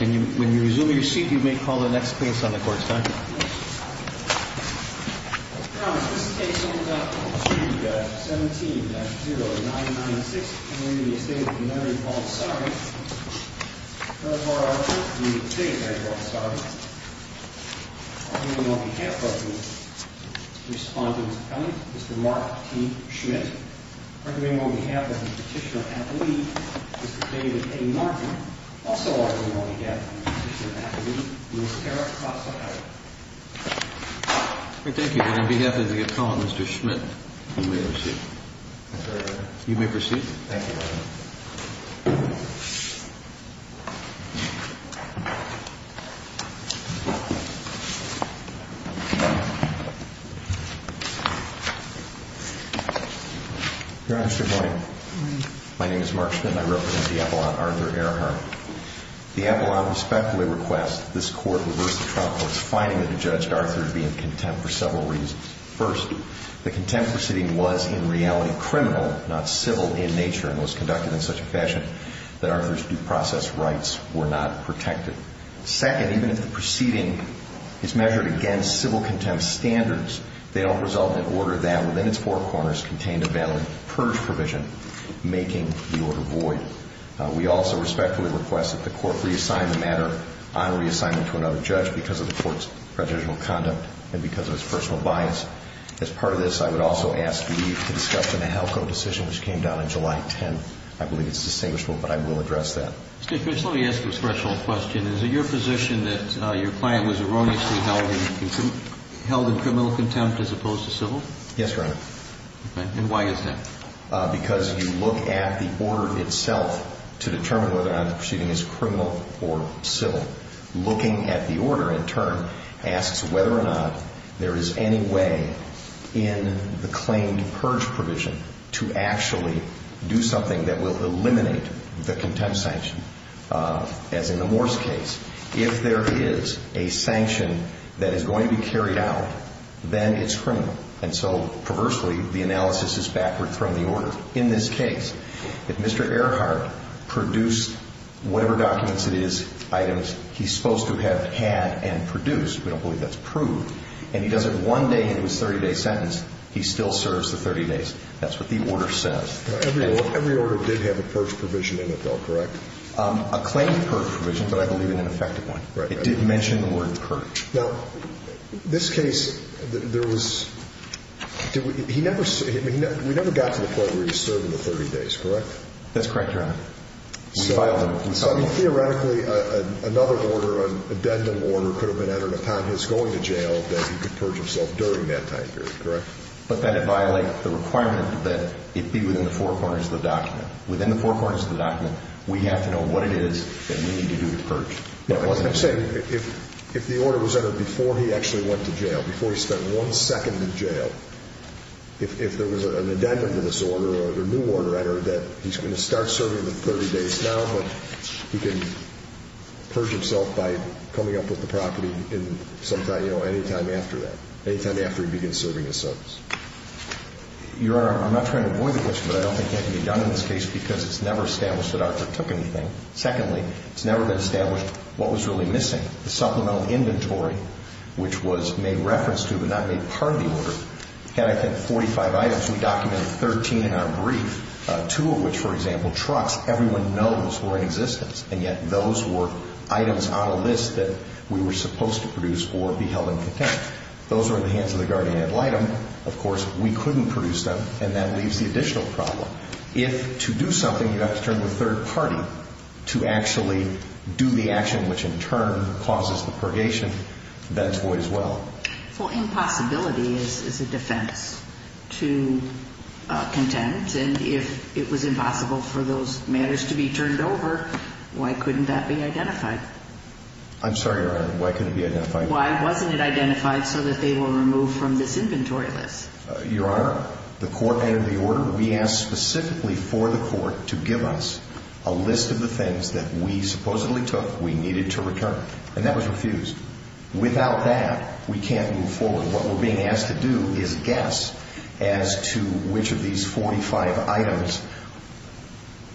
And when you resume your seat, you may call the next case on the court side. Your Honor, this case on page 17-0996, and re Estate of Mary Baldassarre. First of all, I would like to thank the Estate of Mary Baldassarre. On behalf of the respondent, Mr. Mark T. Schmidt. On behalf of the petitioner, Mr. David A. Martin. Also on behalf of the petitioner, Mr. Matt Lee. Thank you. And on behalf of the respondent, Mr. Schmidt, you may proceed. You may proceed. Your Honor, good morning. Good morning. My name is Mark Schmidt, and I represent the Apollo on Arthur Earhart. The Apollo, I respectfully request this Court reverse the trial court's finding that the judge, Arthur, would be in contempt for several reasons. First, the contempt proceeding was, in reality, criminal, not civil in nature, and was conducted in such a fashion that Arthur's due process rights were not protected. Second, even if the proceeding is measured against civil contempt standards, they don't result in an order that, within its four corners, contained a valid purge provision, making the order void. We also respectfully request that the Court reassign the matter on reassignment to another judge because of the Court's prejudicial conduct and because of its personal bias. As part of this, I would also ask leave to discuss the Nahelko decision, which came down on July 10th. I believe it's distinguishable, but I will address that. Mr. Schmidt, let me ask you a special question. Is it your position that your client was erroneously held in criminal contempt as opposed to civil? Yes, Your Honor. Okay. And why is that? Because you look at the order itself to determine whether or not the proceeding is criminal or civil. Looking at the order, in turn, asks whether or not there is any way in the claimed purge provision to actually do something that will eliminate the contempt sanction, as in the Morse case. If there is a sanction that is going to be carried out, then it's criminal. And so, perversely, the analysis is backward from the order. In this case, if Mr. Earhart produced whatever documents it is, items he's supposed to have had and produced, we don't believe that's proved, and he does it one day in his 30-day sentence, he still serves the 30 days. That's what the order says. Every order did have a purge provision in it, though, correct? A claimed purge provision, but I believe in an effective one. It did mention the word purge. Now, this case, there was – he never – we never got to the point where he served the 30 days, correct? We filed them and settled them. Well, I mean, theoretically, another order, an addendum order, could have been entered upon his going to jail that he could purge himself during that time period, correct? But then it violates the requirement that it be within the four corners of the document. Within the four corners of the document, we have to know what it is that we need to do to purge. I'm saying if the order was entered before he actually went to jail, before he spent one second in jail, if there was an addendum to this order or a new order entered that he's going to start serving the 30 days now, but he can purge himself by coming up with the property in some time – you know, any time after that, any time after he begins serving his sentence. Your Honor, I'm not trying to avoid the question, but I don't think that can be done in this case because it's never established that Arthur took anything. Secondly, it's never been established what was really missing, the supplemental inventory, which was made reference to but not made part of the order, had, I think, 45 items. We documented 13 in our brief, two of which, for example, trucks. Everyone knows were in existence, and yet those were items on a list that we were supposed to produce or be held in contempt. Those were in the hands of the guardian ad litem. Of course, we couldn't produce them, and that leaves the additional problem. If, to do something, you have to turn to a third party to actually do the action which in turn causes the purgation, that's void as well. Well, impossibility is a defense to contempt, and if it was impossible for those matters to be turned over, why couldn't that be identified? I'm sorry, Your Honor. Why couldn't it be identified? Why wasn't it identified so that they were removed from this inventory list? Your Honor, the court entered the order. We asked specifically for the court to give us a list of the things that we supposedly took we needed to return, and that was refused. Without that, we can't move forward. What we're being asked to do is guess as to which of these 45 items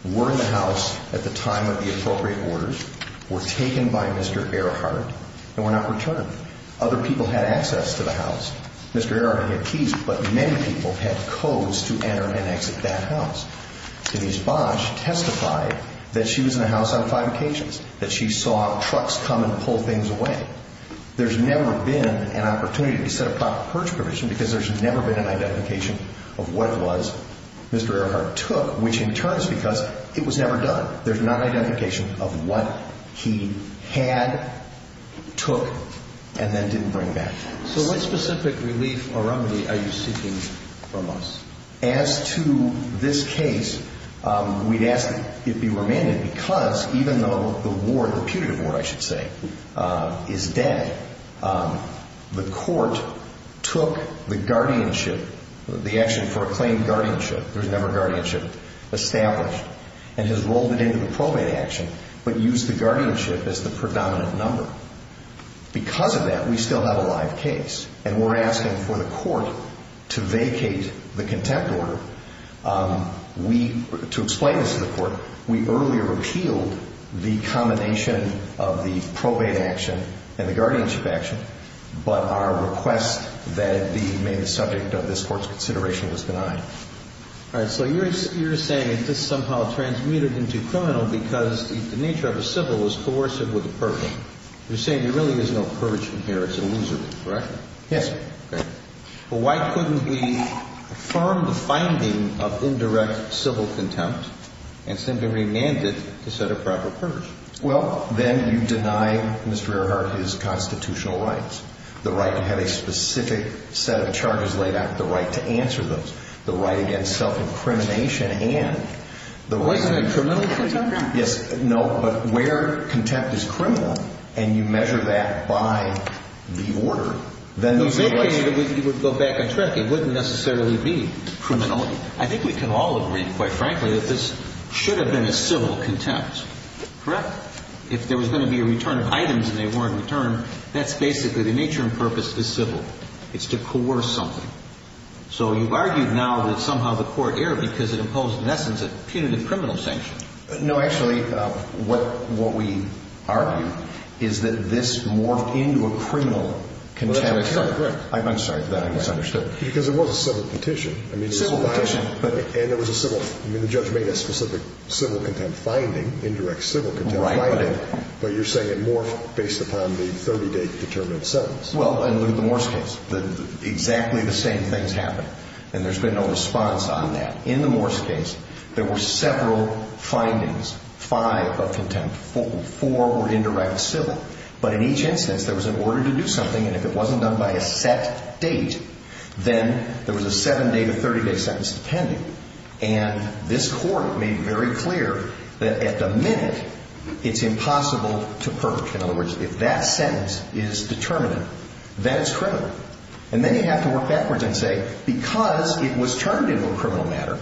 were in the house at the time of the appropriate orders, were taken by Mr. Earhart, and were not returned. Other people had access to the house. Mr. Earhart had keys, but many people had codes to enter and exit that house. Denise Bosch testified that she was in the house on five occasions, that she saw trucks come and pull things away. There's never been an opportunity to set a proper purge provision because there's never been an identification of what it was Mr. Earhart took, which in turn is because it was never done. There's not an identification of what he had, took, and then didn't bring back. So what specific relief or remedy are you seeking from us? As to this case, we'd ask it be remanded because even though the ward, the putative ward I should say, is dead, the court took the guardianship, the action for a claimed guardianship, there was never guardianship established, and has rolled it into the probate action, but used the guardianship as the predominant number. Because of that, we still have a live case, and we're asking for the court to vacate the contempt order. We, to explain this to the court, we earlier repealed the combination of the probate action and the guardianship action, but our request that it be made the subject of this court's consideration was denied. All right. So you're saying that this somehow transmuted into criminal because the nature of a civil was coercive with a purge. You're saying there really is no purge in here. It's illusory, correct? Yes. Okay. Well, why couldn't we affirm the finding of indirect civil contempt and simply remand it to set a proper purge? Well, then you deny Mr. Earhart his constitutional rights, the right to have a specific set of charges laid out, the right to answer those. The right against self-incrimination, and the right to be criminal. Well, isn't that contempt? Yes. No, but where contempt is criminal, and you measure that by the order, then those are the rights. You would go back and correct me. It wouldn't necessarily be criminality. I think we can all agree, quite frankly, that this should have been a civil contempt, correct? If there was going to be a return of items and they weren't returned, that's basically the nature and purpose of the civil. It's to coerce something. So you've argued now that somehow the Court erred because it imposed, in essence, a punitive criminal sanction. No, actually, what we argue is that this morphed into a criminal contempt. I'm sorry for that. I misunderstood. Because it was a civil petition. Civil petition. And there was a civil – I mean, the judge made a specific civil contempt finding, indirect civil contempt finding. Right. But you're saying it morphed based upon the 30-date determined sentence. Well, and look at the Morse case. Exactly the same things happened. And there's been no response on that. In the Morse case, there were several findings, five of contempt. Four were indirect civil. But in each instance, there was an order to do something. And if it wasn't done by a set date, then there was a 7-day to 30-day sentence pending. And this Court made very clear that at the minute, it's impossible to perch. In other words, if that sentence is determinate, then it's criminal. And then you have to work backwards and say, because it was termed into a criminal matter,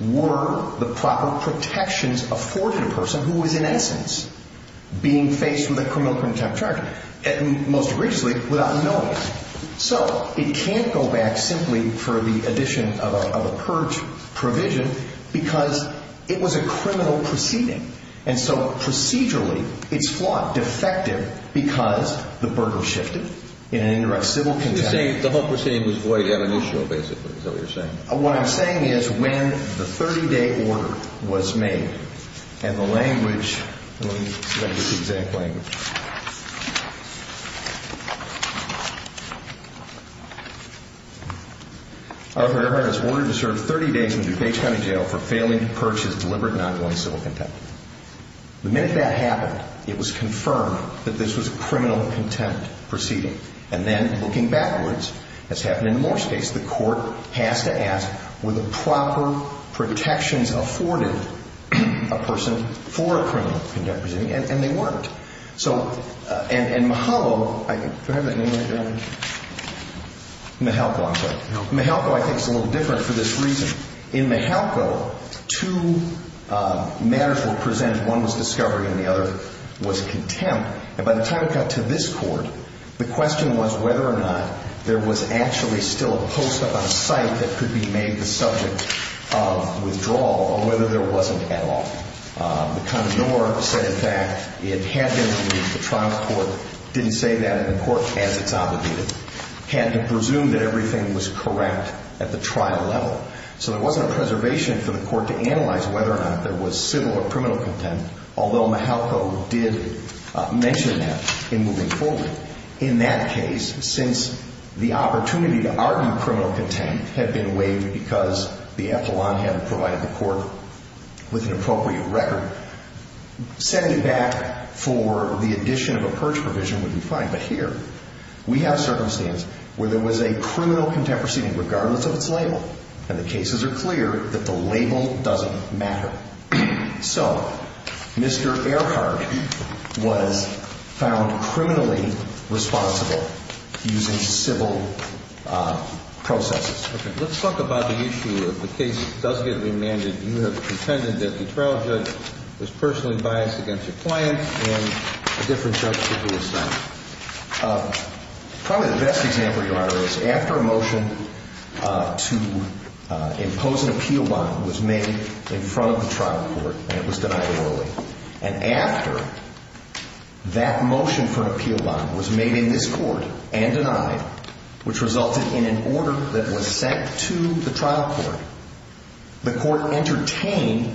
were the proper protections afforded a person who was, in essence, being faced with a criminal contempt charge? And most egregiously, without knowing it. So it can't go back simply for the addition of a perched provision because it was a criminal proceeding. And so procedurally, it's flawed, defective, because the burden shifted in an indirect civil contempt. You're saying the whole proceeding was void at initial, basically, is that what you're saying? What I'm saying is when the 30-day order was made, and the language, let me get the exact language. Our Fair Heart has ordered to serve 30 days in DuPage County Jail for failing to purchase deliberate and ongoing civil contempt. The minute that happened, it was confirmed that this was a criminal contempt proceeding. And then, looking backwards, as happened in Moore's case, the Court has to ask, were the proper protections afforded a person for a criminal contempt proceeding? And they weren't. So, and Mihalko, do I have that name right there on me? Mihalko, I'm sorry. Mihalko, I think, is a little different for this reason. In Mihalko, two matters were presented. One was discovery and the other was contempt. And by the time it got to this Court, the question was whether or not there was actually still a post up on site that could be made the subject of withdrawal or whether there wasn't at all. The Condemnor said, in fact, it had been, the trial court didn't say that in the court as it's obligated, had to presume that everything was correct at the trial level. So there wasn't a preservation for the Court to analyze whether or not there was civil or criminal contempt, although Mihalko did mention that in moving forward. In that case, since the opportunity to argue criminal contempt had been waived because the epilogue hadn't provided the Court with an appropriate record, setting back for the addition of a purge provision would be fine. But here, we have circumstance where there was a criminal contempt proceeding regardless of its label. And the cases are clear that the label doesn't matter. So, Mr. Earhart was found criminally responsible using civil processes. Let's talk about the issue of the case that does get remanded. You have contended that the trial judge was personally biased against your client and a different judge should be assigned. Probably the best example, Your Honor, is after a motion to impose an appeal bond was made in front of the trial court and it was denied orally. And after that motion for an appeal bond was made in this Court and denied, which resulted in an order that was sent to the trial court, the Court entertained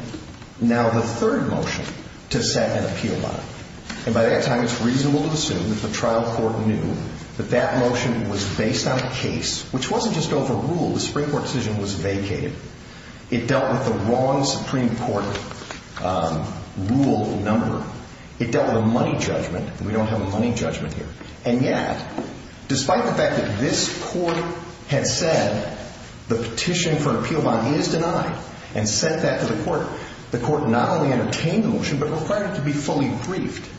now the third motion to set an appeal bond. And by that time, it's reasonable to assume that the trial court knew that that motion was based on a case, which wasn't just overruled. The Supreme Court decision was vacated. It dealt with the wrong Supreme Court rule number. It dealt with a money judgment. We don't have a money judgment here. And yet, despite the fact that this Court had said the petition for an appeal bond is denied and sent that to the Court, the Court not only entertained the motion but required it to be fully briefed.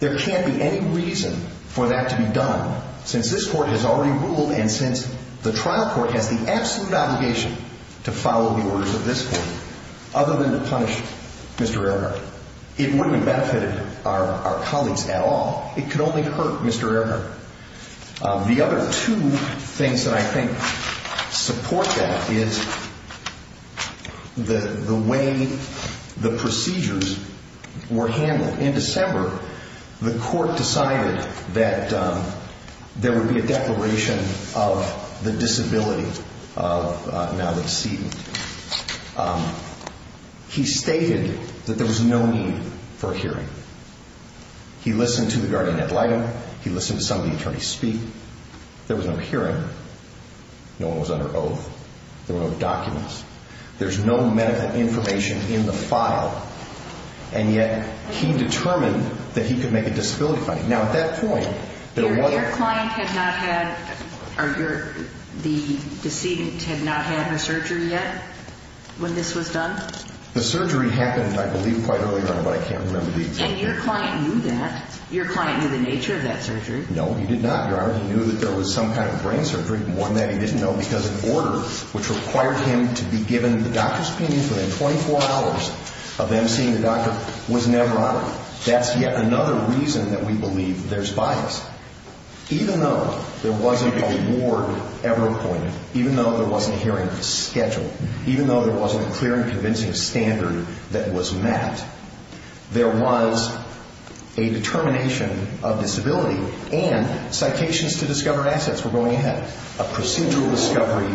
There can't be any reason for that to be done since this Court has already ruled and since the trial court has the absolute obligation to follow the orders of this Court other than to punish Mr. Earhart. It wouldn't have benefited our colleagues at all. It could only hurt Mr. Earhart. The other two things that I think support that is the way the procedures were handled. In December, the Court decided that there would be a declaration of the disability of now the decedent. He stated that there was no need for a hearing. He listened to the guardian ad litem. He listened to some of the attorneys speak. There was no hearing. No one was under oath. There were no documents. There's no medical information in the file. And yet, he determined that he could make a disability finding. Now, at that point, there was a- Your client had not had, or the decedent had not had her surgery yet when this was done? The surgery happened, I believe, quite early on, but I can't remember the exact date. And your client knew that? Your client knew the nature of that surgery? No, he did not, Your Honor. He knew that there was some kind of brain surgery. One that he didn't know because an order which required him to be given the doctor's opinion within 24 hours of them seeing the doctor was never honored. That's yet another reason that we believe there's bias. Even though there wasn't a ward ever appointed, even though there wasn't a hearing scheduled, even though there wasn't a clear and convincing standard that was met, there was a determination of disability and citations to discover assets were going ahead, a procedural discovery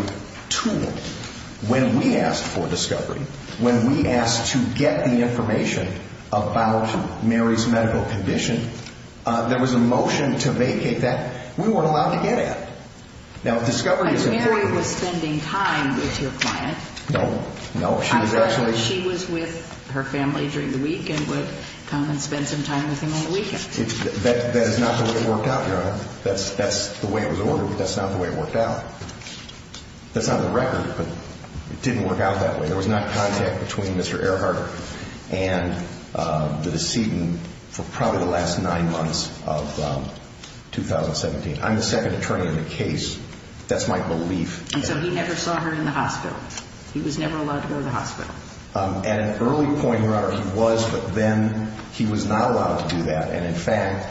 tool. When we asked for discovery, when we asked to get the information about Mary's medical condition, there was a motion to vacate that we weren't allowed to get at. But Mary was spending time with your client. No, no. I thought that she was with her family during the week and would come and spend some time with him on the weekend. That is not the way it worked out, Your Honor. That's the way it was ordered, but that's not the way it worked out. That's on the record, but it didn't work out that way. There was not contact between Mr. Earhart and the decedent for probably the last nine months of 2017. I'm the second attorney in the case. That's my belief. And so he never saw her in the hospital. He was never allowed to go to the hospital. At an early point, Your Honor, he was, but then he was not allowed to do that. And, in fact,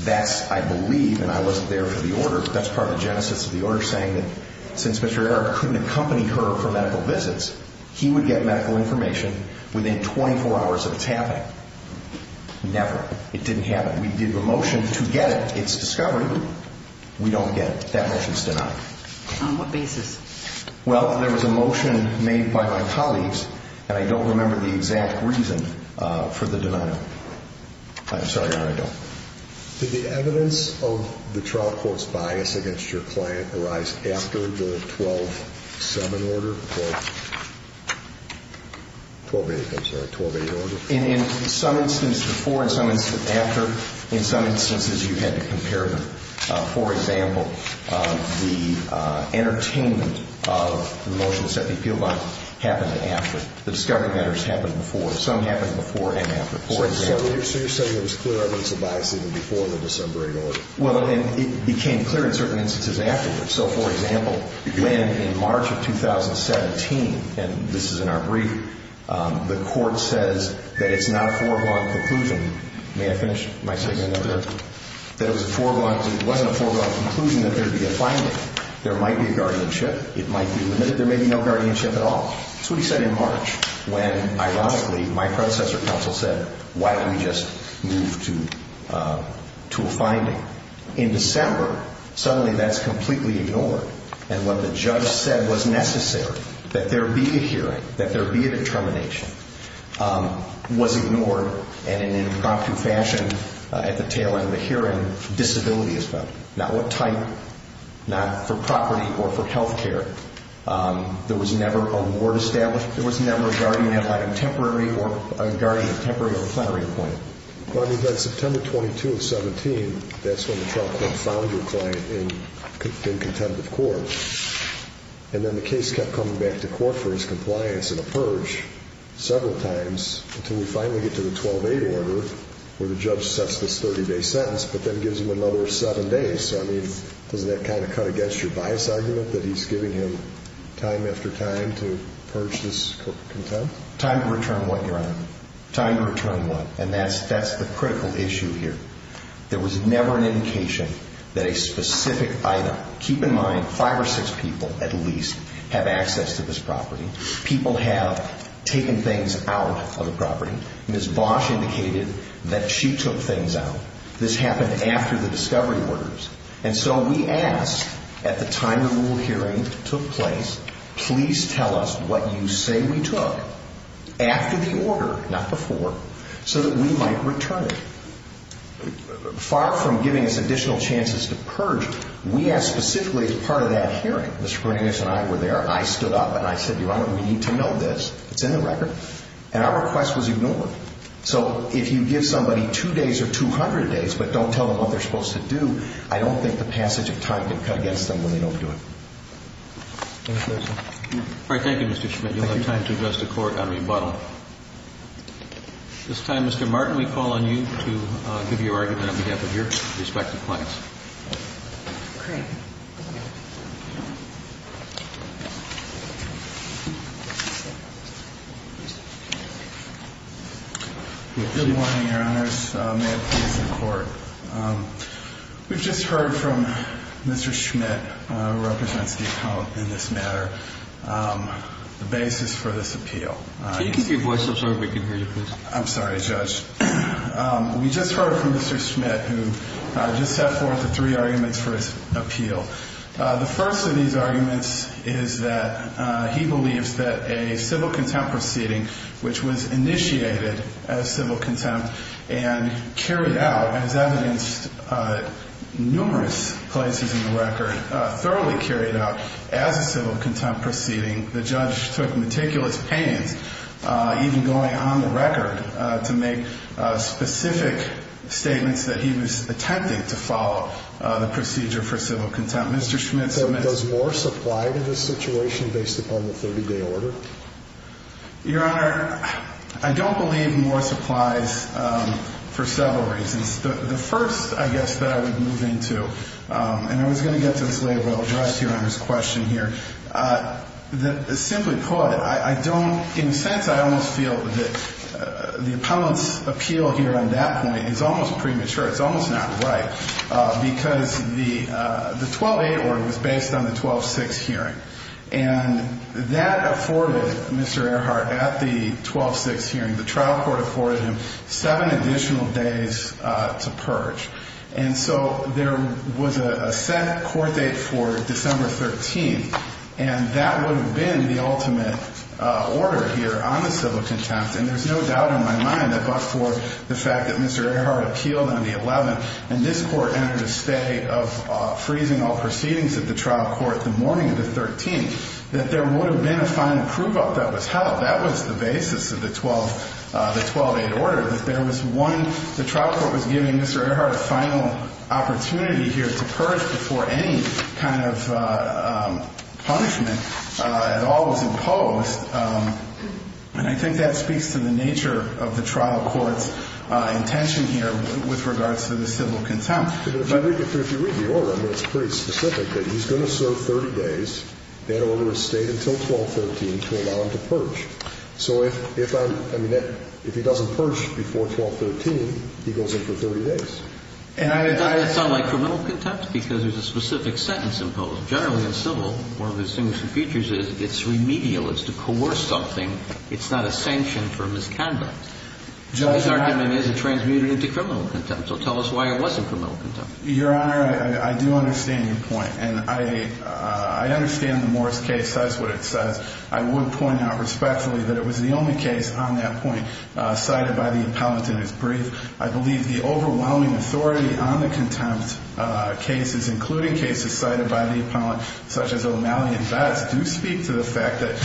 that's, I believe, and I wasn't there for the order, but that's part of the genesis of the order saying that since Mr. Earhart couldn't accompany her for medical visits, he would get medical information within 24 hours of its happening. Never. It didn't happen. We did the motion to get it. It's discovered. We don't get it. That motion's denied. On what basis? Well, there was a motion made by my colleagues, and I don't remember the exact reason for the denial. I'm sorry, Your Honor, I don't. Did the evidence of the trial court's bias against your client arise after the 12-7 order? 12-8, I'm sorry, 12-8 order? In some instances before, in some instances after, in some instances you had to compare them. For example, the entertainment of the motion to set the appeal bond happened after. The discovery matters happened before. Some happened before and after. So you're saying there was clear evidence of bias even before the December 8 order? Well, and it became clear in certain instances afterwards. So, for example, when in March of 2017, and this is in our brief, the court says that it's not a four-blanc conclusion. May I finish my statement up there? Yes. That it was a four-blanc, it wasn't a four-blanc conclusion that there would be a finding. There might be a guardianship. It might be limited. There may be no guardianship at all. That's what he said in March when, ironically, my predecessor counsel said, why don't we just move to a finding? In December, suddenly that's completely ignored. And what the judge said was necessary, that there be a hearing, that there be a determination, was ignored. And in an impromptu fashion, at the tail end of the hearing, disability is found. Not what type, not for property or for health care. There was never a ward established. There was never a guardian applied on temporary or a guardian temporary or plenary appointed. Well, I mean, then September 22 of 17, that's when the trial court found your client in contempt of court. And then the case kept coming back to court for his compliance in a purge several times until we finally get to the 12-8 order where the judge sets this 30-day sentence but then gives him another seven days. I mean, doesn't that kind of cut against your bias argument that he's giving him time after time to purge this contempt? Time to return what, Your Honor? Time to return what? And that's the critical issue here. There was never an indication that a specific item, keep in mind five or six people at least, have access to this property. People have taken things out of the property. Ms. Bosch indicated that she took things out. This happened after the discovery orders. And so we asked at the time the rule hearing took place, please tell us what you say we took after the order, not before, so that we might return it. Far from giving us additional chances to purge, we asked specifically as part of that hearing. Mr. Bernanke and I were there. I stood up and I said, Your Honor, we need to know this. It's in the record. And our request was ignored. So if you give somebody two days or 200 days but don't tell them what they're supposed to do, I don't think the passage of time could cut against them when they don't do it. All right. Thank you, Mr. Schmidt. You'll have time to address the Court on rebuttal. At this time, Mr. Martin, we call on you to give your argument on behalf of your respective clients. Okay. Good morning, Your Honors. May it please the Court. We've just heard from Mr. Schmidt, who represents the account in this matter, the basis for this appeal. If you can keep your voice up so everybody can hear you, please. I'm sorry, Judge. We just heard from Mr. Schmidt, who just set forth the three arguments for his appeal. The first of these arguments is that he believes that a civil contempt proceeding, which was initiated as civil contempt and carried out, as evidenced numerous places in the record, thoroughly carried out as a civil contempt proceeding, the judge took meticulous pains, even going on the record, to make specific statements that he was attempting to follow the procedure for civil contempt. Mr. Schmidt submits— Does more supply to this situation based upon the 30-day order? Your Honor, I don't believe more supplies for several reasons. The first, I guess, that I would move into, and I was going to get to this later, but I'll address Your Honor's question here. Simply put, I don't—in a sense, I almost feel that the appellant's appeal here on that point is almost premature. It's almost not right because the 12-8 order was based on the 12-6 hearing. And that afforded Mr. Earhart, at the 12-6 hearing, the trial court afforded him seven additional days to purge. And so there was a set court date for December 13th, and that would have been the ultimate order here on the civil contempt. And there's no doubt in my mind that, but for the fact that Mr. Earhart appealed on the 11th, and this Court entered a stay of freezing all proceedings at the trial court the morning of the 13th, that there would have been a final prove-up that was held. That was the basis of the 12-8 order. That there was one—the trial court was giving Mr. Earhart a final opportunity here to purge before any kind of punishment at all was imposed. And I think that speaks to the nature of the trial court's intention here with regards to the civil contempt. If you read the order, I mean, it's pretty specific, that he's going to serve 30 days, that order is stayed until 12-13, to allow him to purge. So if I'm—I mean, if he doesn't purge before 12-13, he goes in for 30 days. And I— It doesn't sound like criminal contempt because there's a specific sentence imposed. Generally, in civil, one of the distinguishing features is it's remedial. It's to coerce something. It's not a sanction for misconduct. Judge— This argument isn't transmuted into criminal contempt. So tell us why it wasn't criminal contempt. Your Honor, I do understand your point. And I understand the Morris case says what it says. I would point out respectfully that it was the only case on that point cited by the appellant in his brief. I believe the overwhelming authority on the contempt cases, including cases cited by the appellant, such as O'Malley and Vest, do speak to the fact that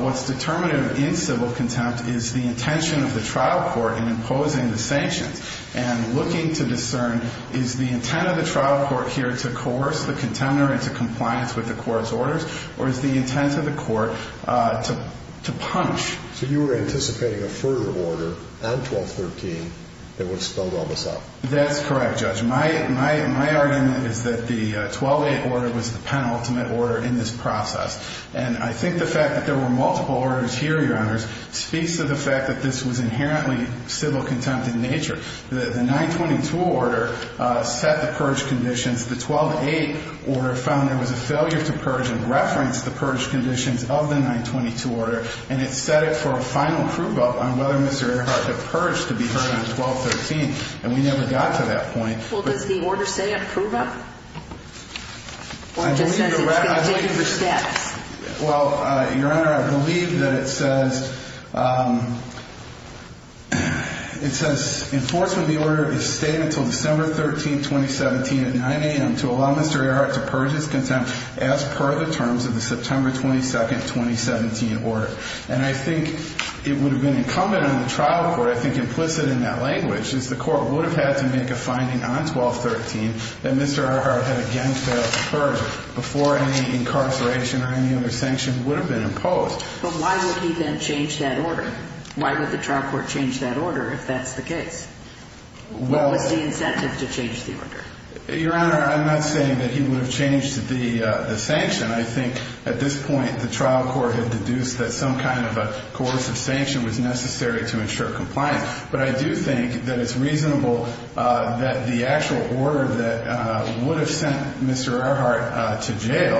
what's determinative in civil contempt is the intention of the trial court in imposing the sanctions and looking to discern is the intent of the trial court here to coerce the contender into compliance with the court's orders or is the intent of the court to punish. So you were anticipating a further order on 1213 that would spell all this out. That's correct, Judge. My argument is that the 1208 order was the penultimate order in this process. And I think the fact that there were multiple orders here, Your Honors, speaks to the fact that this was inherently civil contempt in nature. The 922 order set the purge conditions. The 1208 order found there was a failure to purge and referenced the purge conditions of the 922 order, and it set it for a final prove-up on whether Mr. Earhart could purge to be heard on 1213. And we never got to that point. Well, does the order say a prove-up? Or does it say it's going to date it for steps? Well, Your Honor, I believe that it says enforcement of the order is to stay until December 13, 2017 at 9 a.m. to allow Mr. Earhart to purge his contempt as per the terms of the September 22, 2017 order. And I think it would have been incumbent on the trial court, I think implicit in that language, is the court would have had to make a finding on 1213 that Mr. Earhart had again failed to purge before any incarceration or any other sanction would have been imposed. But why would he then change that order? Why would the trial court change that order if that's the case? What was the incentive to change the order? Your Honor, I'm not saying that he would have changed the sanction. I think at this point the trial court had deduced that some kind of a coercive sanction was necessary to ensure compliance. But I do think that it's reasonable that the actual order that would have sent Mr. Earhart to jail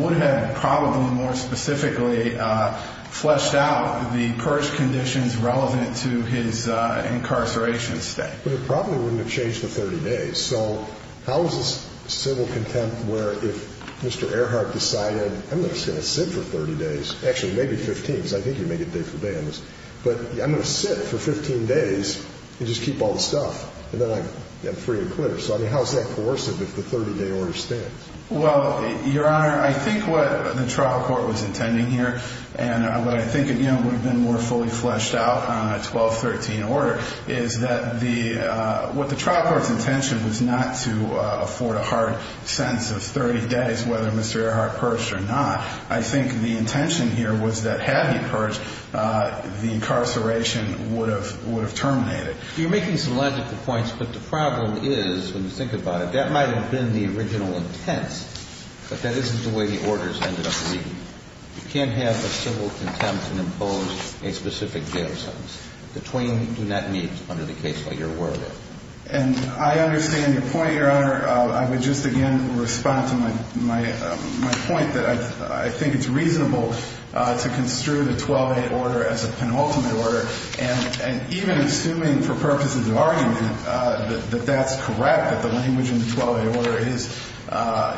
would have probably more specifically fleshed out the purge conditions relevant to his incarceration stay. But it probably wouldn't have changed for 30 days. So how is this civil contempt where if Mr. Earhart decided, I'm just going to sit for 30 days, actually maybe 15 because I think he would make it day for day on this, but I'm going to sit for 15 days and just keep all the stuff and then I'm free and clear. So how is that coercive if the 30-day order stands? Well, Your Honor, I think what the trial court was intending here and what I think would have been more fully fleshed out on a 1213 order is that what the trial court's intention was not to afford a hard sentence of 30 days whether Mr. Earhart perished or not. I think the intention here was that had he perished, the incarceration would have terminated. You're making some logical points, but the problem is when you think about it, that might have been the original intent, but that isn't the way the orders ended up reading. You can't have a civil contempt and impose a specific jail sentence. The twain do not meet under the case law you're aware of. And I understand your point, Your Honor. I would just again respond to my point that I think it's reasonable to construe the 12A order as a penultimate order and even assuming for purposes of argument that that's correct, that the language in the 12A order is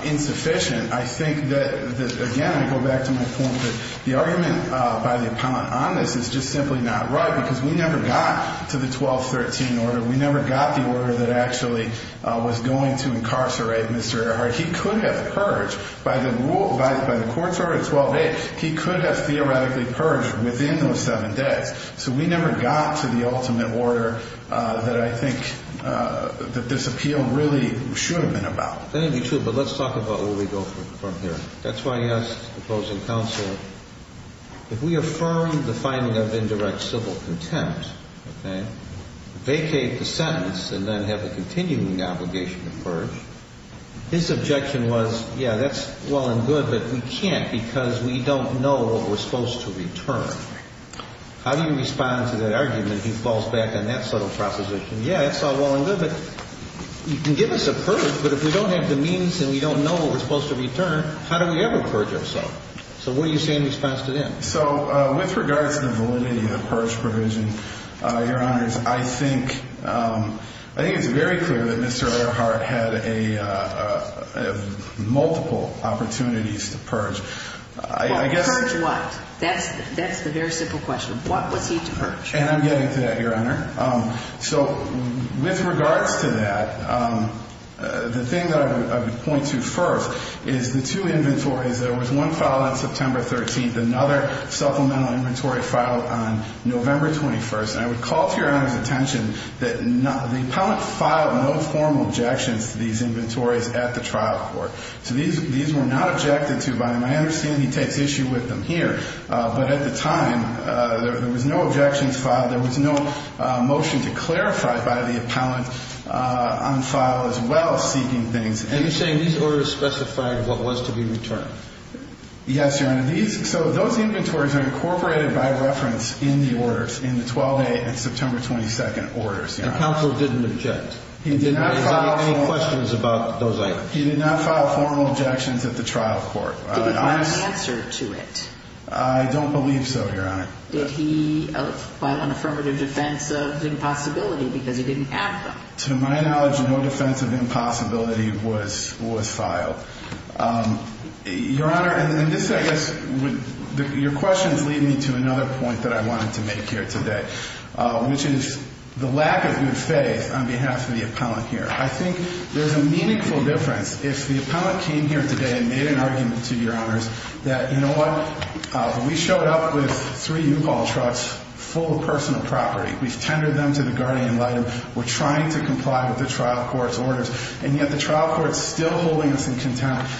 insufficient, I think that, again, I go back to my point that the argument by the appellant on this is just simply not right because we never got to the 1213 order. We never got the order that actually was going to incarcerate Mr. Earhart. He could have perished. By the court's order, 12A, he could have theoretically perished within those seven days. So we never got to the ultimate order that I think this appeal really should have been about. That would be true, but let's talk about where we go from here. That's why he asked opposing counsel, if we affirm the finding of indirect civil contempt, vacate the sentence and then have a continuing obligation to purge, his objection was, yeah, that's well and good, but we can't because we don't know what we're supposed to return. How do you respond to that argument? He falls back on that subtle proposition. Yeah, that's all well and good, but you can give us a purge, but if we don't have the means and we don't know what we're supposed to return, how do we ever purge ourselves? So what do you say in response to that? So with regards to the validity of the purge provision, Your Honors, I think it's very clear that Mr. Earhart had multiple opportunities to purge. Purge what? That's the very simple question. What was he to purge? And I'm getting to that, Your Honor. So with regards to that, the thing that I would point to first is the two inventories. There was one filed on September 13th, another supplemental inventory filed on November 21st, and I would call to Your Honor's attention that the appellant filed no formal objections to these inventories at the trial court. So these were not objected to by him. I understand he takes issue with them here, but at the time, there was no objections filed. There was no motion to clarify by the appellant on file as well seeking things. Are you saying these orders specified what was to be returned? Yes, Your Honor. So those inventories are incorporated by reference in the orders, in the 12A and September 22nd orders. And counsel didn't object? He did not file formal objections at the trial court. Did he file an answer to it? I don't believe so, Your Honor. Did he file an affirmative defense of impossibility because he didn't have them? To my knowledge, no defense of impossibility was filed. Your Honor, and this, I guess, your question is leading me to another point that I wanted to make here today, which is the lack of good faith on behalf of the appellant here. I think there's a meaningful difference if the appellant came here today and made an argument to Your Honors that, you know what, we showed up with three U-Haul trucks full of personal property. We've tendered them to the guardian and we're trying to comply with the trial court's orders, and yet the trial court is still holding us in contempt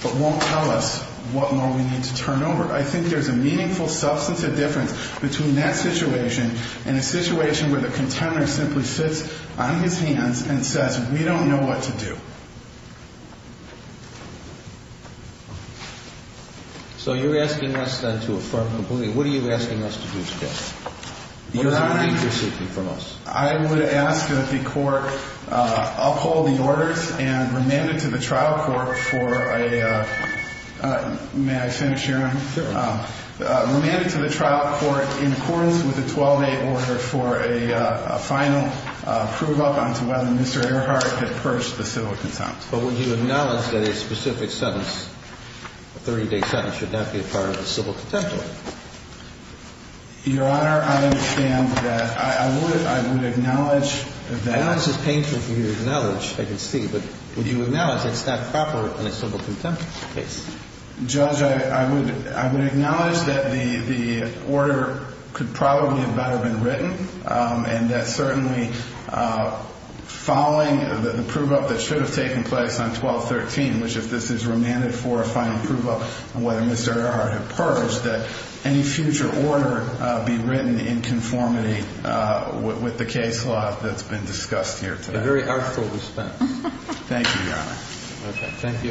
but won't tell us what more we need to turn over. I think there's a meaningful substantive difference between that situation and a situation where the contender simply sits on his hands and says, we don't know what to do. So you're asking us then to affirm completely. What are you asking us to do today? Your Honor, I would ask that the court uphold the orders and remand it to the trial court for a, may I finish, Your Honor? Sure. Remand it to the trial court in accordance with the 12-A order for a final prove-up on to whether Mr. Earhart had purged the civil contempt. But would you acknowledge that a specific sentence, a 30-day sentence, should not be a part of the civil contempt order? Your Honor, I understand that. I would acknowledge that. I know this is painful for you to acknowledge, I can see, but would you acknowledge it's not proper in a civil contempt case? Judge, I would acknowledge that the order could probably have better been written, and that certainly following the prove-up that should have taken place on 12-13, which if this is remanded for a final prove-up on whether Mr. Earhart had purged, that any future order be written in conformity with the case law that's been discussed here today. Thank you, Your Honor. Okay, thank you.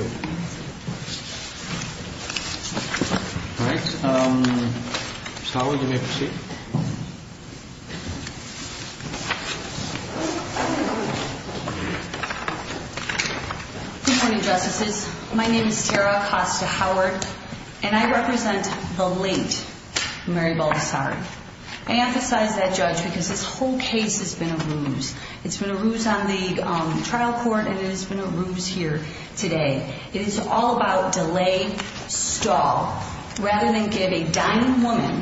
All right. Sarah, you may proceed. Good morning, Justices. My name is Sarah Costa-Howard, and I represent the late Mary Baldessari. I emphasize that, Judge, because this whole case has been a ruse. It's been a ruse on the trial court, and it has been a ruse here today. It is all about delay, stall, rather than give a dying woman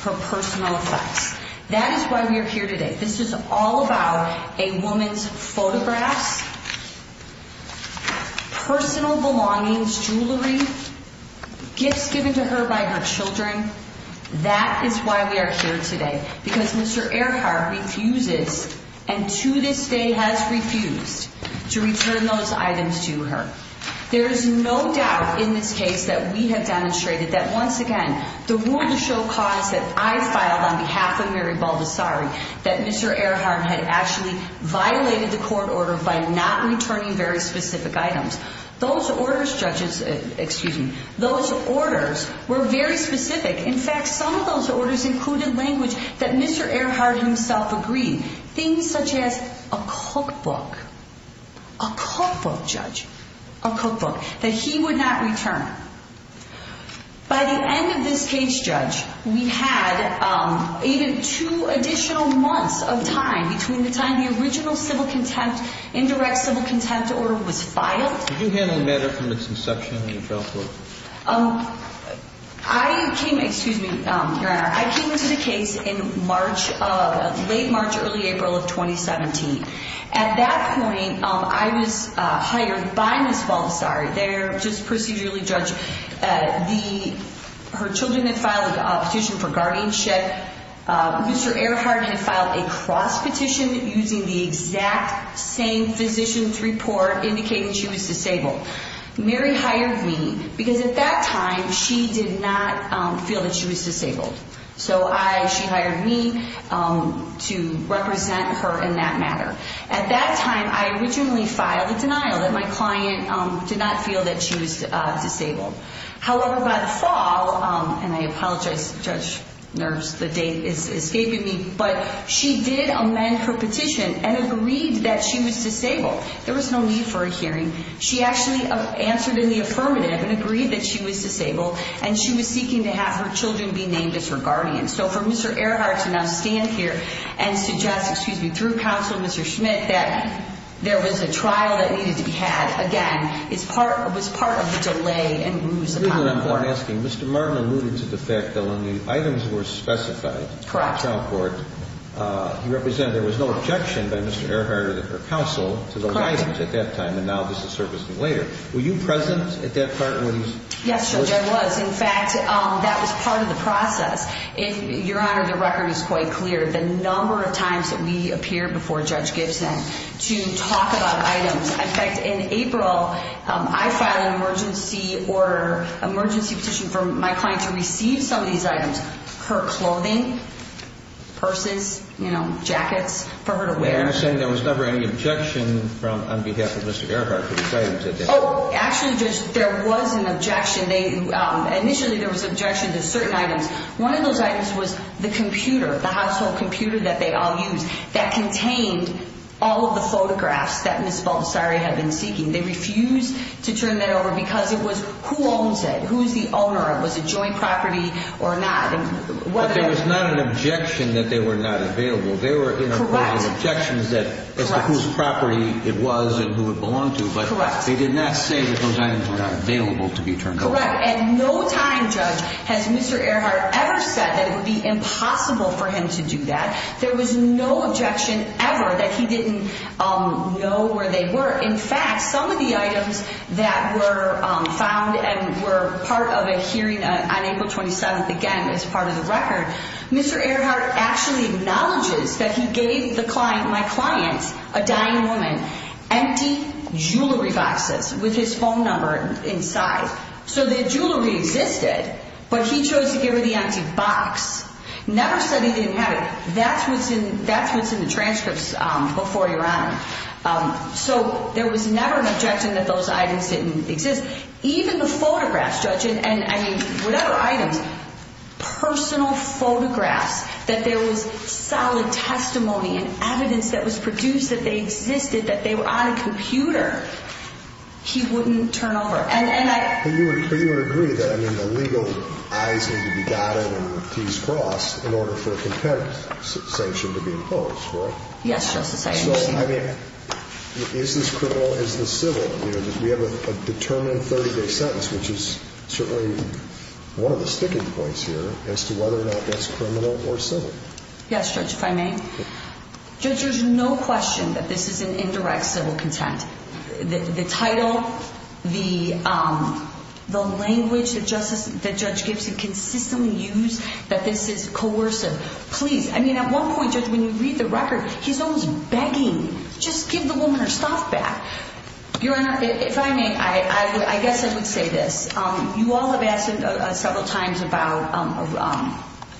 her personal effects. That is why we are here today. This is all about a woman's photographs, personal belongings, jewelry, gifts given to her by her children. That is why we are here today, because Mr. Earhart refuses, and to this day has refused, to return those items to her. There is no doubt in this case that we have demonstrated that, once again, the war to show cause that I filed on behalf of Mary Baldessari, that Mr. Earhart had actually violated the court order by not returning very specific items. Those orders, judges, excuse me, those orders were very specific. In fact, some of those orders included language that Mr. Earhart himself agreed, things such as a cookbook, a cookbook, Judge, a cookbook, that he would not return. By the end of this case, Judge, we had even two additional months of time between the time the original civil contempt, indirect civil contempt order was filed. Did you handle the matter from its inception in the trial court? I came, excuse me, Your Honor, I came to the case in March, late March, early April of 2017. At that point, I was hired by Ms. Baldessari. They are just procedurally judged. Her children had filed a petition for guardianship. Mr. Earhart had filed a cross petition using the exact same physician's report indicating she was disabled. Mary hired me because at that time she did not feel that she was disabled. So I, she hired me to represent her in that matter. At that time, I originally filed a denial that my client did not feel that she was disabled. However, by the fall, and I apologize, Judge Nurse, the date is escaping me, but she did amend her petition and agreed that she was disabled. There was no need for a hearing. She actually answered in the affirmative and agreed that she was disabled and she was seeking to have her children be named as her guardians. So for Mr. Earhart to now stand here and suggest, excuse me, through counsel, Mr. Schmidt, that there was a trial that needed to be had, again, was part of the delay and bruise upon the court. I'm asking, Mr. Martin alluded to the fact that when the items were specified in the trial court, he represented there was no objection by Mr. Earhart or the counsel to the items at that time, and now this is surfacing later. Were you present at that part when he was soliciting? Yes, Judge, I was. In fact, that was part of the process. Your Honor, the record is quite clear. The number of times that we appeared before Judge Gibson to talk about items. In fact, in April, I filed an emergency petition for my client to receive some of these items, her clothing, purses, jackets, for her to wear. And you're saying there was never any objection on behalf of Mr. Earhart to the items at that time? Actually, Judge, there was an objection. Initially, there was objection to certain items. One of those items was the computer, the household computer that they all used, that contained all of the photographs that Ms. Baldessari had been seeking. They refused to turn that over because it was who owns it, who is the owner of it, was it joint property or not. But there was not an objection that they were not available. Correct. There were objections as to whose property it was and who it belonged to. Correct. But they did not say that those items were not available to be turned over. Correct. At no time, Judge, has Mr. Earhart ever said that it would be impossible for him to do that. There was no objection ever that he didn't know where they were. In fact, some of the items that were found and were part of a hearing on April 27th, again, as part of the record, Mr. Earhart actually acknowledges that he gave my client, a dying woman, empty jewelry boxes with his phone number inside. So the jewelry existed, but he chose to give her the empty box. Never said he didn't have it. That's what's in the transcripts before you're on. So there was never an objection that those items didn't exist. Even the photographs, Judge, and, I mean, whatever items, personal photographs, that there was solid testimony and evidence that was produced that they existed, that they were on a computer, he wouldn't turn over. And I – But you would agree that, I mean, the legal eyes need to be dotted and the T's crossed in order for a competitive sanction to be imposed, right? Yes, Justice Eichhorn. So, I mean, is this criminal? Is this civil? We have a determined 30-day sentence, which is certainly one of the sticking points here as to whether or not that's criminal or civil. Yes, Judge, if I may. Judge, there's no question that this is an indirect civil content. The title, the language that Judge Gibson consistently used, that this is coercive. Please, I mean, at one point, Judge, when you read the record, he's almost begging, just give the woman her stuff back. Your Honor, if I may, I guess I would say this. You all have asked several times about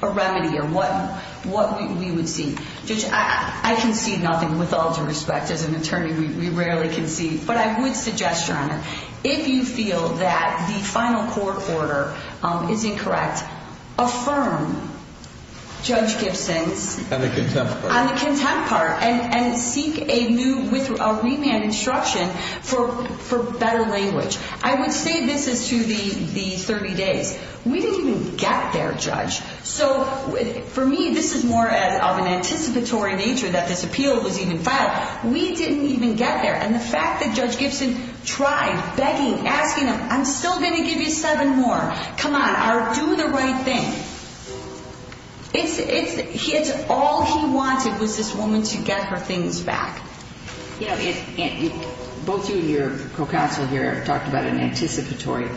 a remedy or what we would see. Judge, I can see nothing. With all due respect, as an attorney, we rarely can see. But I would suggest, Your Honor, if you feel that the final court order is incorrect, affirm Judge Gibson's – On the contempt part. On the contempt part. And seek a new, a remand instruction for better language. I would say this as to the 30 days. We didn't even get there, Judge. So for me, this is more of an anticipatory nature that this appeal was even filed. We didn't even get there. And the fact that Judge Gibson tried begging, asking them, I'm still going to give you seven more. Come on, do the right thing. It's all he wanted was this woman to get her things back. Both you and your co-counsel here have talked about an anticipatory.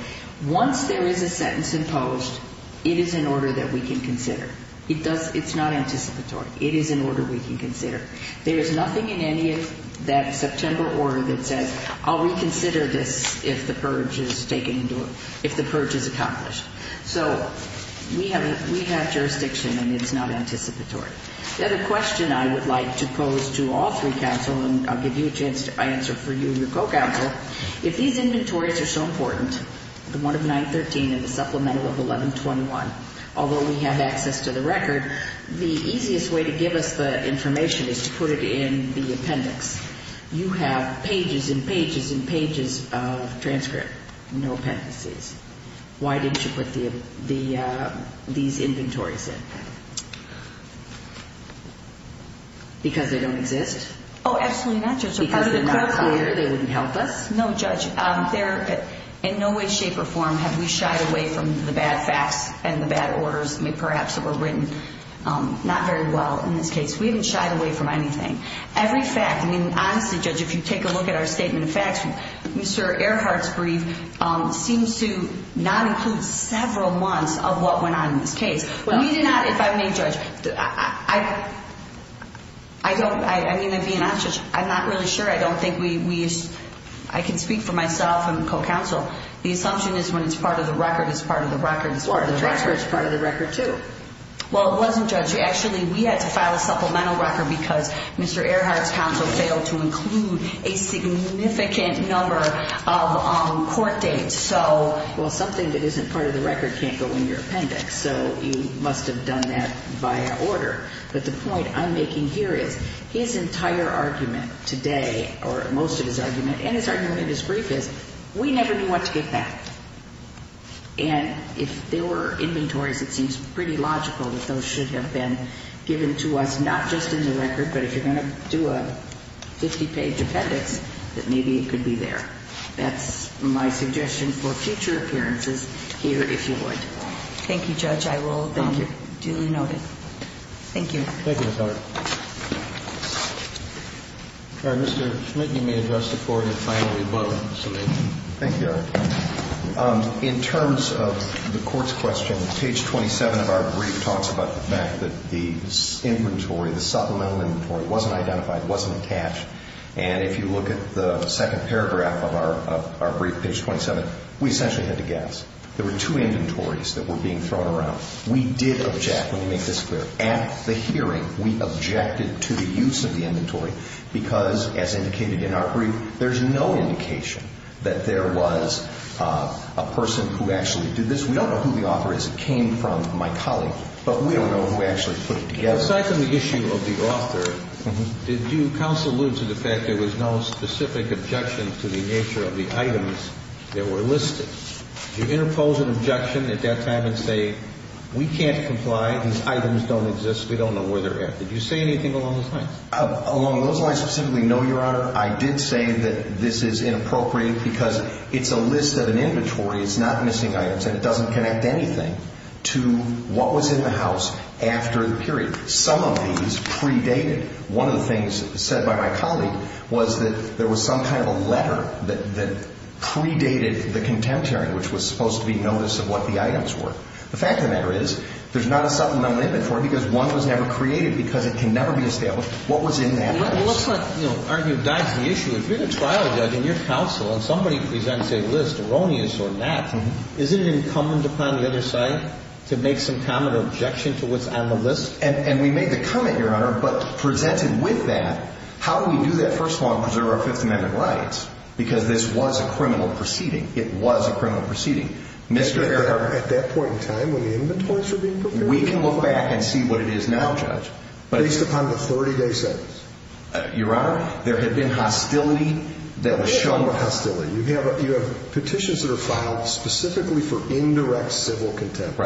Once there is a sentence imposed, it is an order that we can consider. It's not anticipatory. It is an order we can consider. There is nothing in any of that September order that says, I'll reconsider this if the purge is taken – if the purge is accomplished. So we have jurisdiction, and it's not anticipatory. The other question I would like to pose to all three counsel, and I'll give you a chance to answer for you and your co-counsel, if these inventories are so important, the one of 913 and the supplemental of 1121, although we have access to the record, the easiest way to give us the information is to put it in the appendix. You have pages and pages and pages of transcript, no appendices. Why didn't you put these inventories in? Because they don't exist? Oh, absolutely not, Judge. Because they're not clear, they wouldn't help us? No, Judge. In no way, shape, or form have we shied away from the bad facts and the bad orders perhaps that were written not very well in this case. We haven't shied away from anything. Every fact – I mean, honestly, Judge, if you take a look at our statement of facts, Mr. Earhart's brief seems to not include several months of what went on in this case. We did not – if I may, Judge, I don't – I mean, to be honest, Judge, I'm not really sure. I don't think we – I can speak for myself and the co-counsel. The assumption is when it's part of the record, it's part of the record. Or the transcript is part of the record, too. Well, it wasn't, Judge. Actually, we had to file a supplemental record because Mr. Earhart's counsel failed to include a significant number of court dates. Well, something that isn't part of the record can't go in your appendix, so you must have done that by order. But the point I'm making here is his entire argument today, or most of his argument, and his argument in his brief is we never knew what to get back. And if there were inventories, it seems pretty logical that those should have been given to us not just in the record, but if you're going to do a 50-page appendix, that maybe it could be there. That's my suggestion for future appearances here, if you would. Thank you, Judge. I will then duly note it. Thank you. Thank you, Ms. Hart. All right. Mr. Schmidt, you may address the floor, and then finally, Butler. Thank you, Your Honor. In terms of the court's question, page 27 of our brief talks about the fact that the inventory, the supplemental inventory, wasn't identified, wasn't attached. And if you look at the second paragraph of our brief, page 27, we essentially had to guess. There were two inventories that were being thrown around. We did object. Let me make this clear. At the hearing, we objected to the use of the inventory because, as indicated in our brief, there's no indication that there was a person who actually did this. We don't know who the author is. It came from my colleague. But we don't know who actually put it together. Aside from the issue of the author, did you counsel allude to the fact there was no specific objection to the nature of the items that were listed? Did you interpose an objection at that time and say, we can't comply, these items don't exist, we don't know where they're at? Did you say anything along those lines? Along those lines, specifically, no, Your Honor. I did say that this is inappropriate because it's a list of an inventory, it's not missing items, and it doesn't connect anything to what was in the house after the period. Some of these predated. One of the things said by my colleague was that there was some kind of a letter that predated the contempt hearing, which was supposed to be notice of what the items were. The fact of the matter is there's not a supplemental inventory because one was never created because it can never be established what was in that list. Well, it looks like, you know, Arne, you've dodged the issue. If you're the trial judge and you're counsel and somebody presents a list, erroneous or not, isn't it incumbent upon the other side to make some kind of objection to what's on the list? And we made the comment, Your Honor, but presented with that, how do we do that first of all and preserve our Fifth Amendment rights? Because this was a criminal proceeding. It was a criminal proceeding. At that point in time when the inventories were being prepared? We can look back and see what it is now, Judge. Based upon the 30-day sentence. Your Honor, there had been hostility that was shown. There was no hostility. You have petitions that are filed specifically for indirect civil contempt.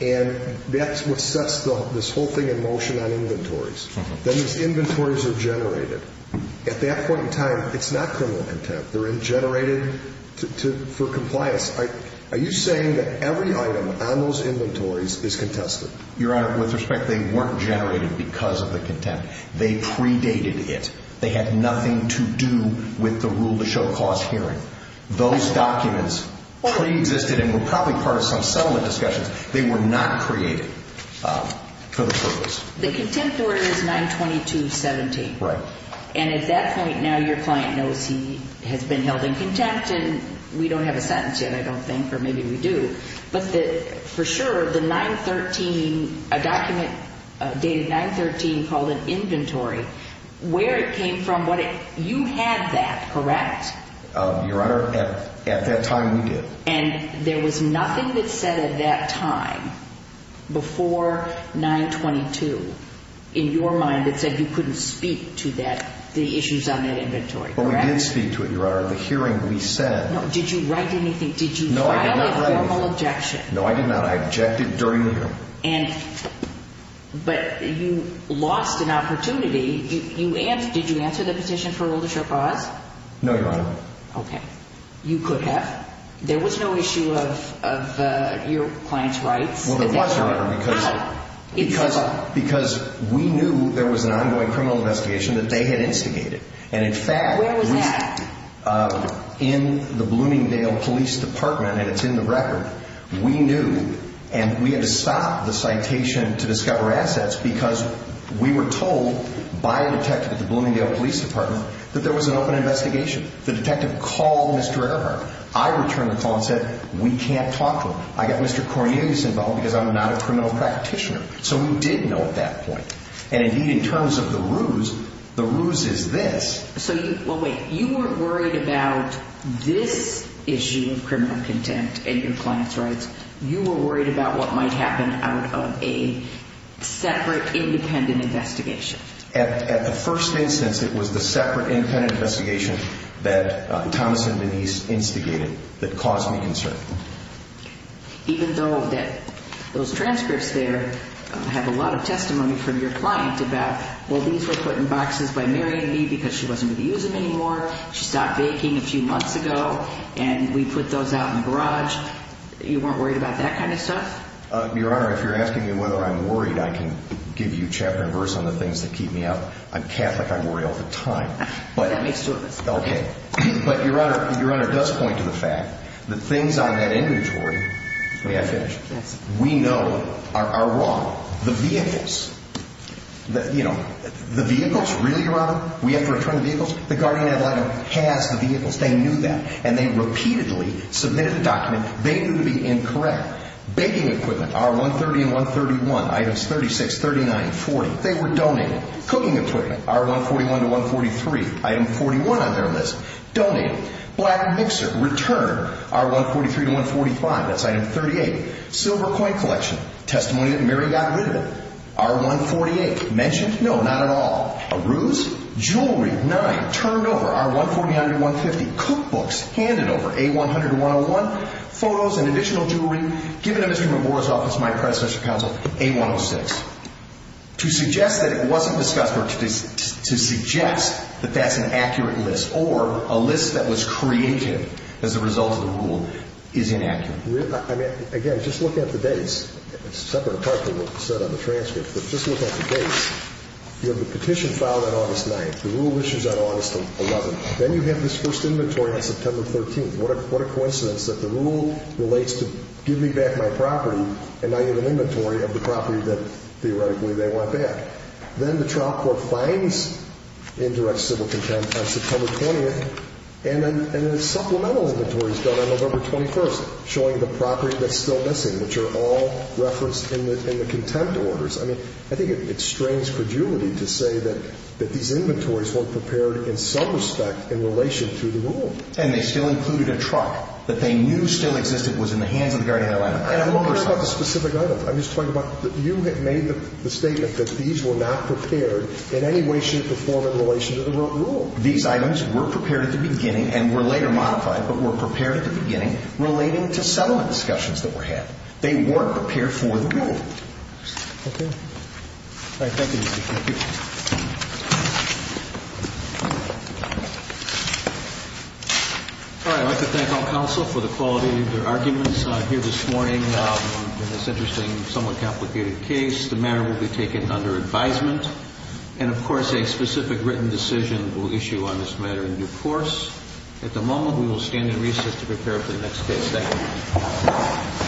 And that's what sets this whole thing in motion on inventories. Then these inventories are generated. At that point in time, it's not criminal contempt. They're generated for compliance. Are you saying that every item on those inventories is contested? Your Honor, with respect, they weren't generated because of the contempt. They predated it. They had nothing to do with the rule to show cause hearing. Those documents preexisted and were probably part of some settlement discussions. They were not created for the purpose. The contempt order is 922.17. Right. And at that point, now your client knows he has been held in contempt, and we don't have a sentence yet, I don't think, or maybe we do. But for sure, the 913, a document dated 913 called an inventory, where it came from, you had that, correct? Your Honor, at that time, we did. And there was nothing that said at that time, before 922, in your mind that said you couldn't speak to the issues on that inventory, correct? But we did speak to it, Your Honor. The hearing, we said. Did you write anything? No, I did not write anything. Did you file a formal objection? No, I did not. I objected during the hearing. But you lost an opportunity. Did you answer the petition for rule to show cause? No, Your Honor. Okay. You could have. There was no issue of your client's rights? Well, there was, Your Honor. How? Because we knew there was an ongoing criminal investigation that they had instigated. And in fact, we. Where was that? In the Bloomingdale Police Department, and it's in the record. We knew. And we had to stop the citation to discover assets because we were told by a detective at the Bloomingdale Police Department that there was an open investigation. The detective called Mr. Earhart. I returned the call and said, we can't talk to him. I got Mr. Cornelius involved because I'm not a criminal practitioner. So we did know at that point. And indeed, in terms of the ruse, the ruse is this. Well, wait. You weren't worried about this issue of criminal contempt and your client's rights. You were worried about what might happen out of a separate independent investigation. At the first instance, it was the separate independent investigation that Thomas and Denise instigated that caused me concern. Even though those transcripts there have a lot of testimony from your client about, well, these were put in boxes by Mary and me because she wasn't going to use them anymore. She stopped baking a few months ago. And we put those out in the garage. You weren't worried about that kind of stuff? Your Honor, if you're asking me whether I'm worried, I can give you chapter and verse on the things that keep me out. I'm Catholic. I worry all the time. That makes two of us. Okay. But, Your Honor, Your Honor does point to the fact that things on that inventory, may I finish? Yes. We know are wrong. The vehicles. You know, the vehicles, really, Your Honor? We have to return the vehicles? The guardian ad litem has the vehicles. They knew that. And they repeatedly submitted a document. They knew to be incorrect. Baking equipment, R-130 and R-131, items 36, 39, 40, they were donated. Cooking equipment, R-141 to 143, item 41 on their list, donated. Black mixer, return, R-143 to 145, that's item 38. Silver coin collection, testimony that Mary got rid of it. R-148, mentioned? No, not at all. A ruse? Jewelry, nine. Turned over, R-140, 150. Cookbooks, handed over, A-100, 101. Photos and additional jewelry, given to Mr. Mabora's office, my predecessor counsel, A-106. To suggest that it wasn't discussed or to suggest that that's an accurate list or a list that was creative as a result of the rule is inaccurate. I mean, again, just look at the dates. It's separate apart from what was said on the transcript, but just look at the dates. You have the petition filed on August 9th. The rule issues on August 11th. Then you have this first inventory on September 13th. What a coincidence that the rule relates to give me back my property and I get an inventory of the property that theoretically they want back. Then the trial court finds indirect civil contempt on September 20th, and then a supplemental inventory is done on November 21st, showing the property that's still missing, which are all referenced in the contempt orders. I mean, I think it strains credulity to say that these inventories weren't prepared in some respect in relation to the rule. And they still included a truck that they knew still existed was in the hands of the guardian of Atlanta. I'm not going to discuss the specific items. I'm just talking about you had made the statement that these were not prepared in any way, shape, or form in relation to the rule. These items were prepared at the beginning and were later modified, but were prepared at the beginning relating to settlement discussions that were had. They weren't prepared for the rule. Okay. Thank you. I'd like to thank all counsel for the quality of their arguments. I'm here this morning on this interesting, somewhat complicated case. The matter will be taken under advisement. And, of course, a specific written decision will issue on this matter in due course. At the moment, we will stand in recess to prepare for the next case. Thank you.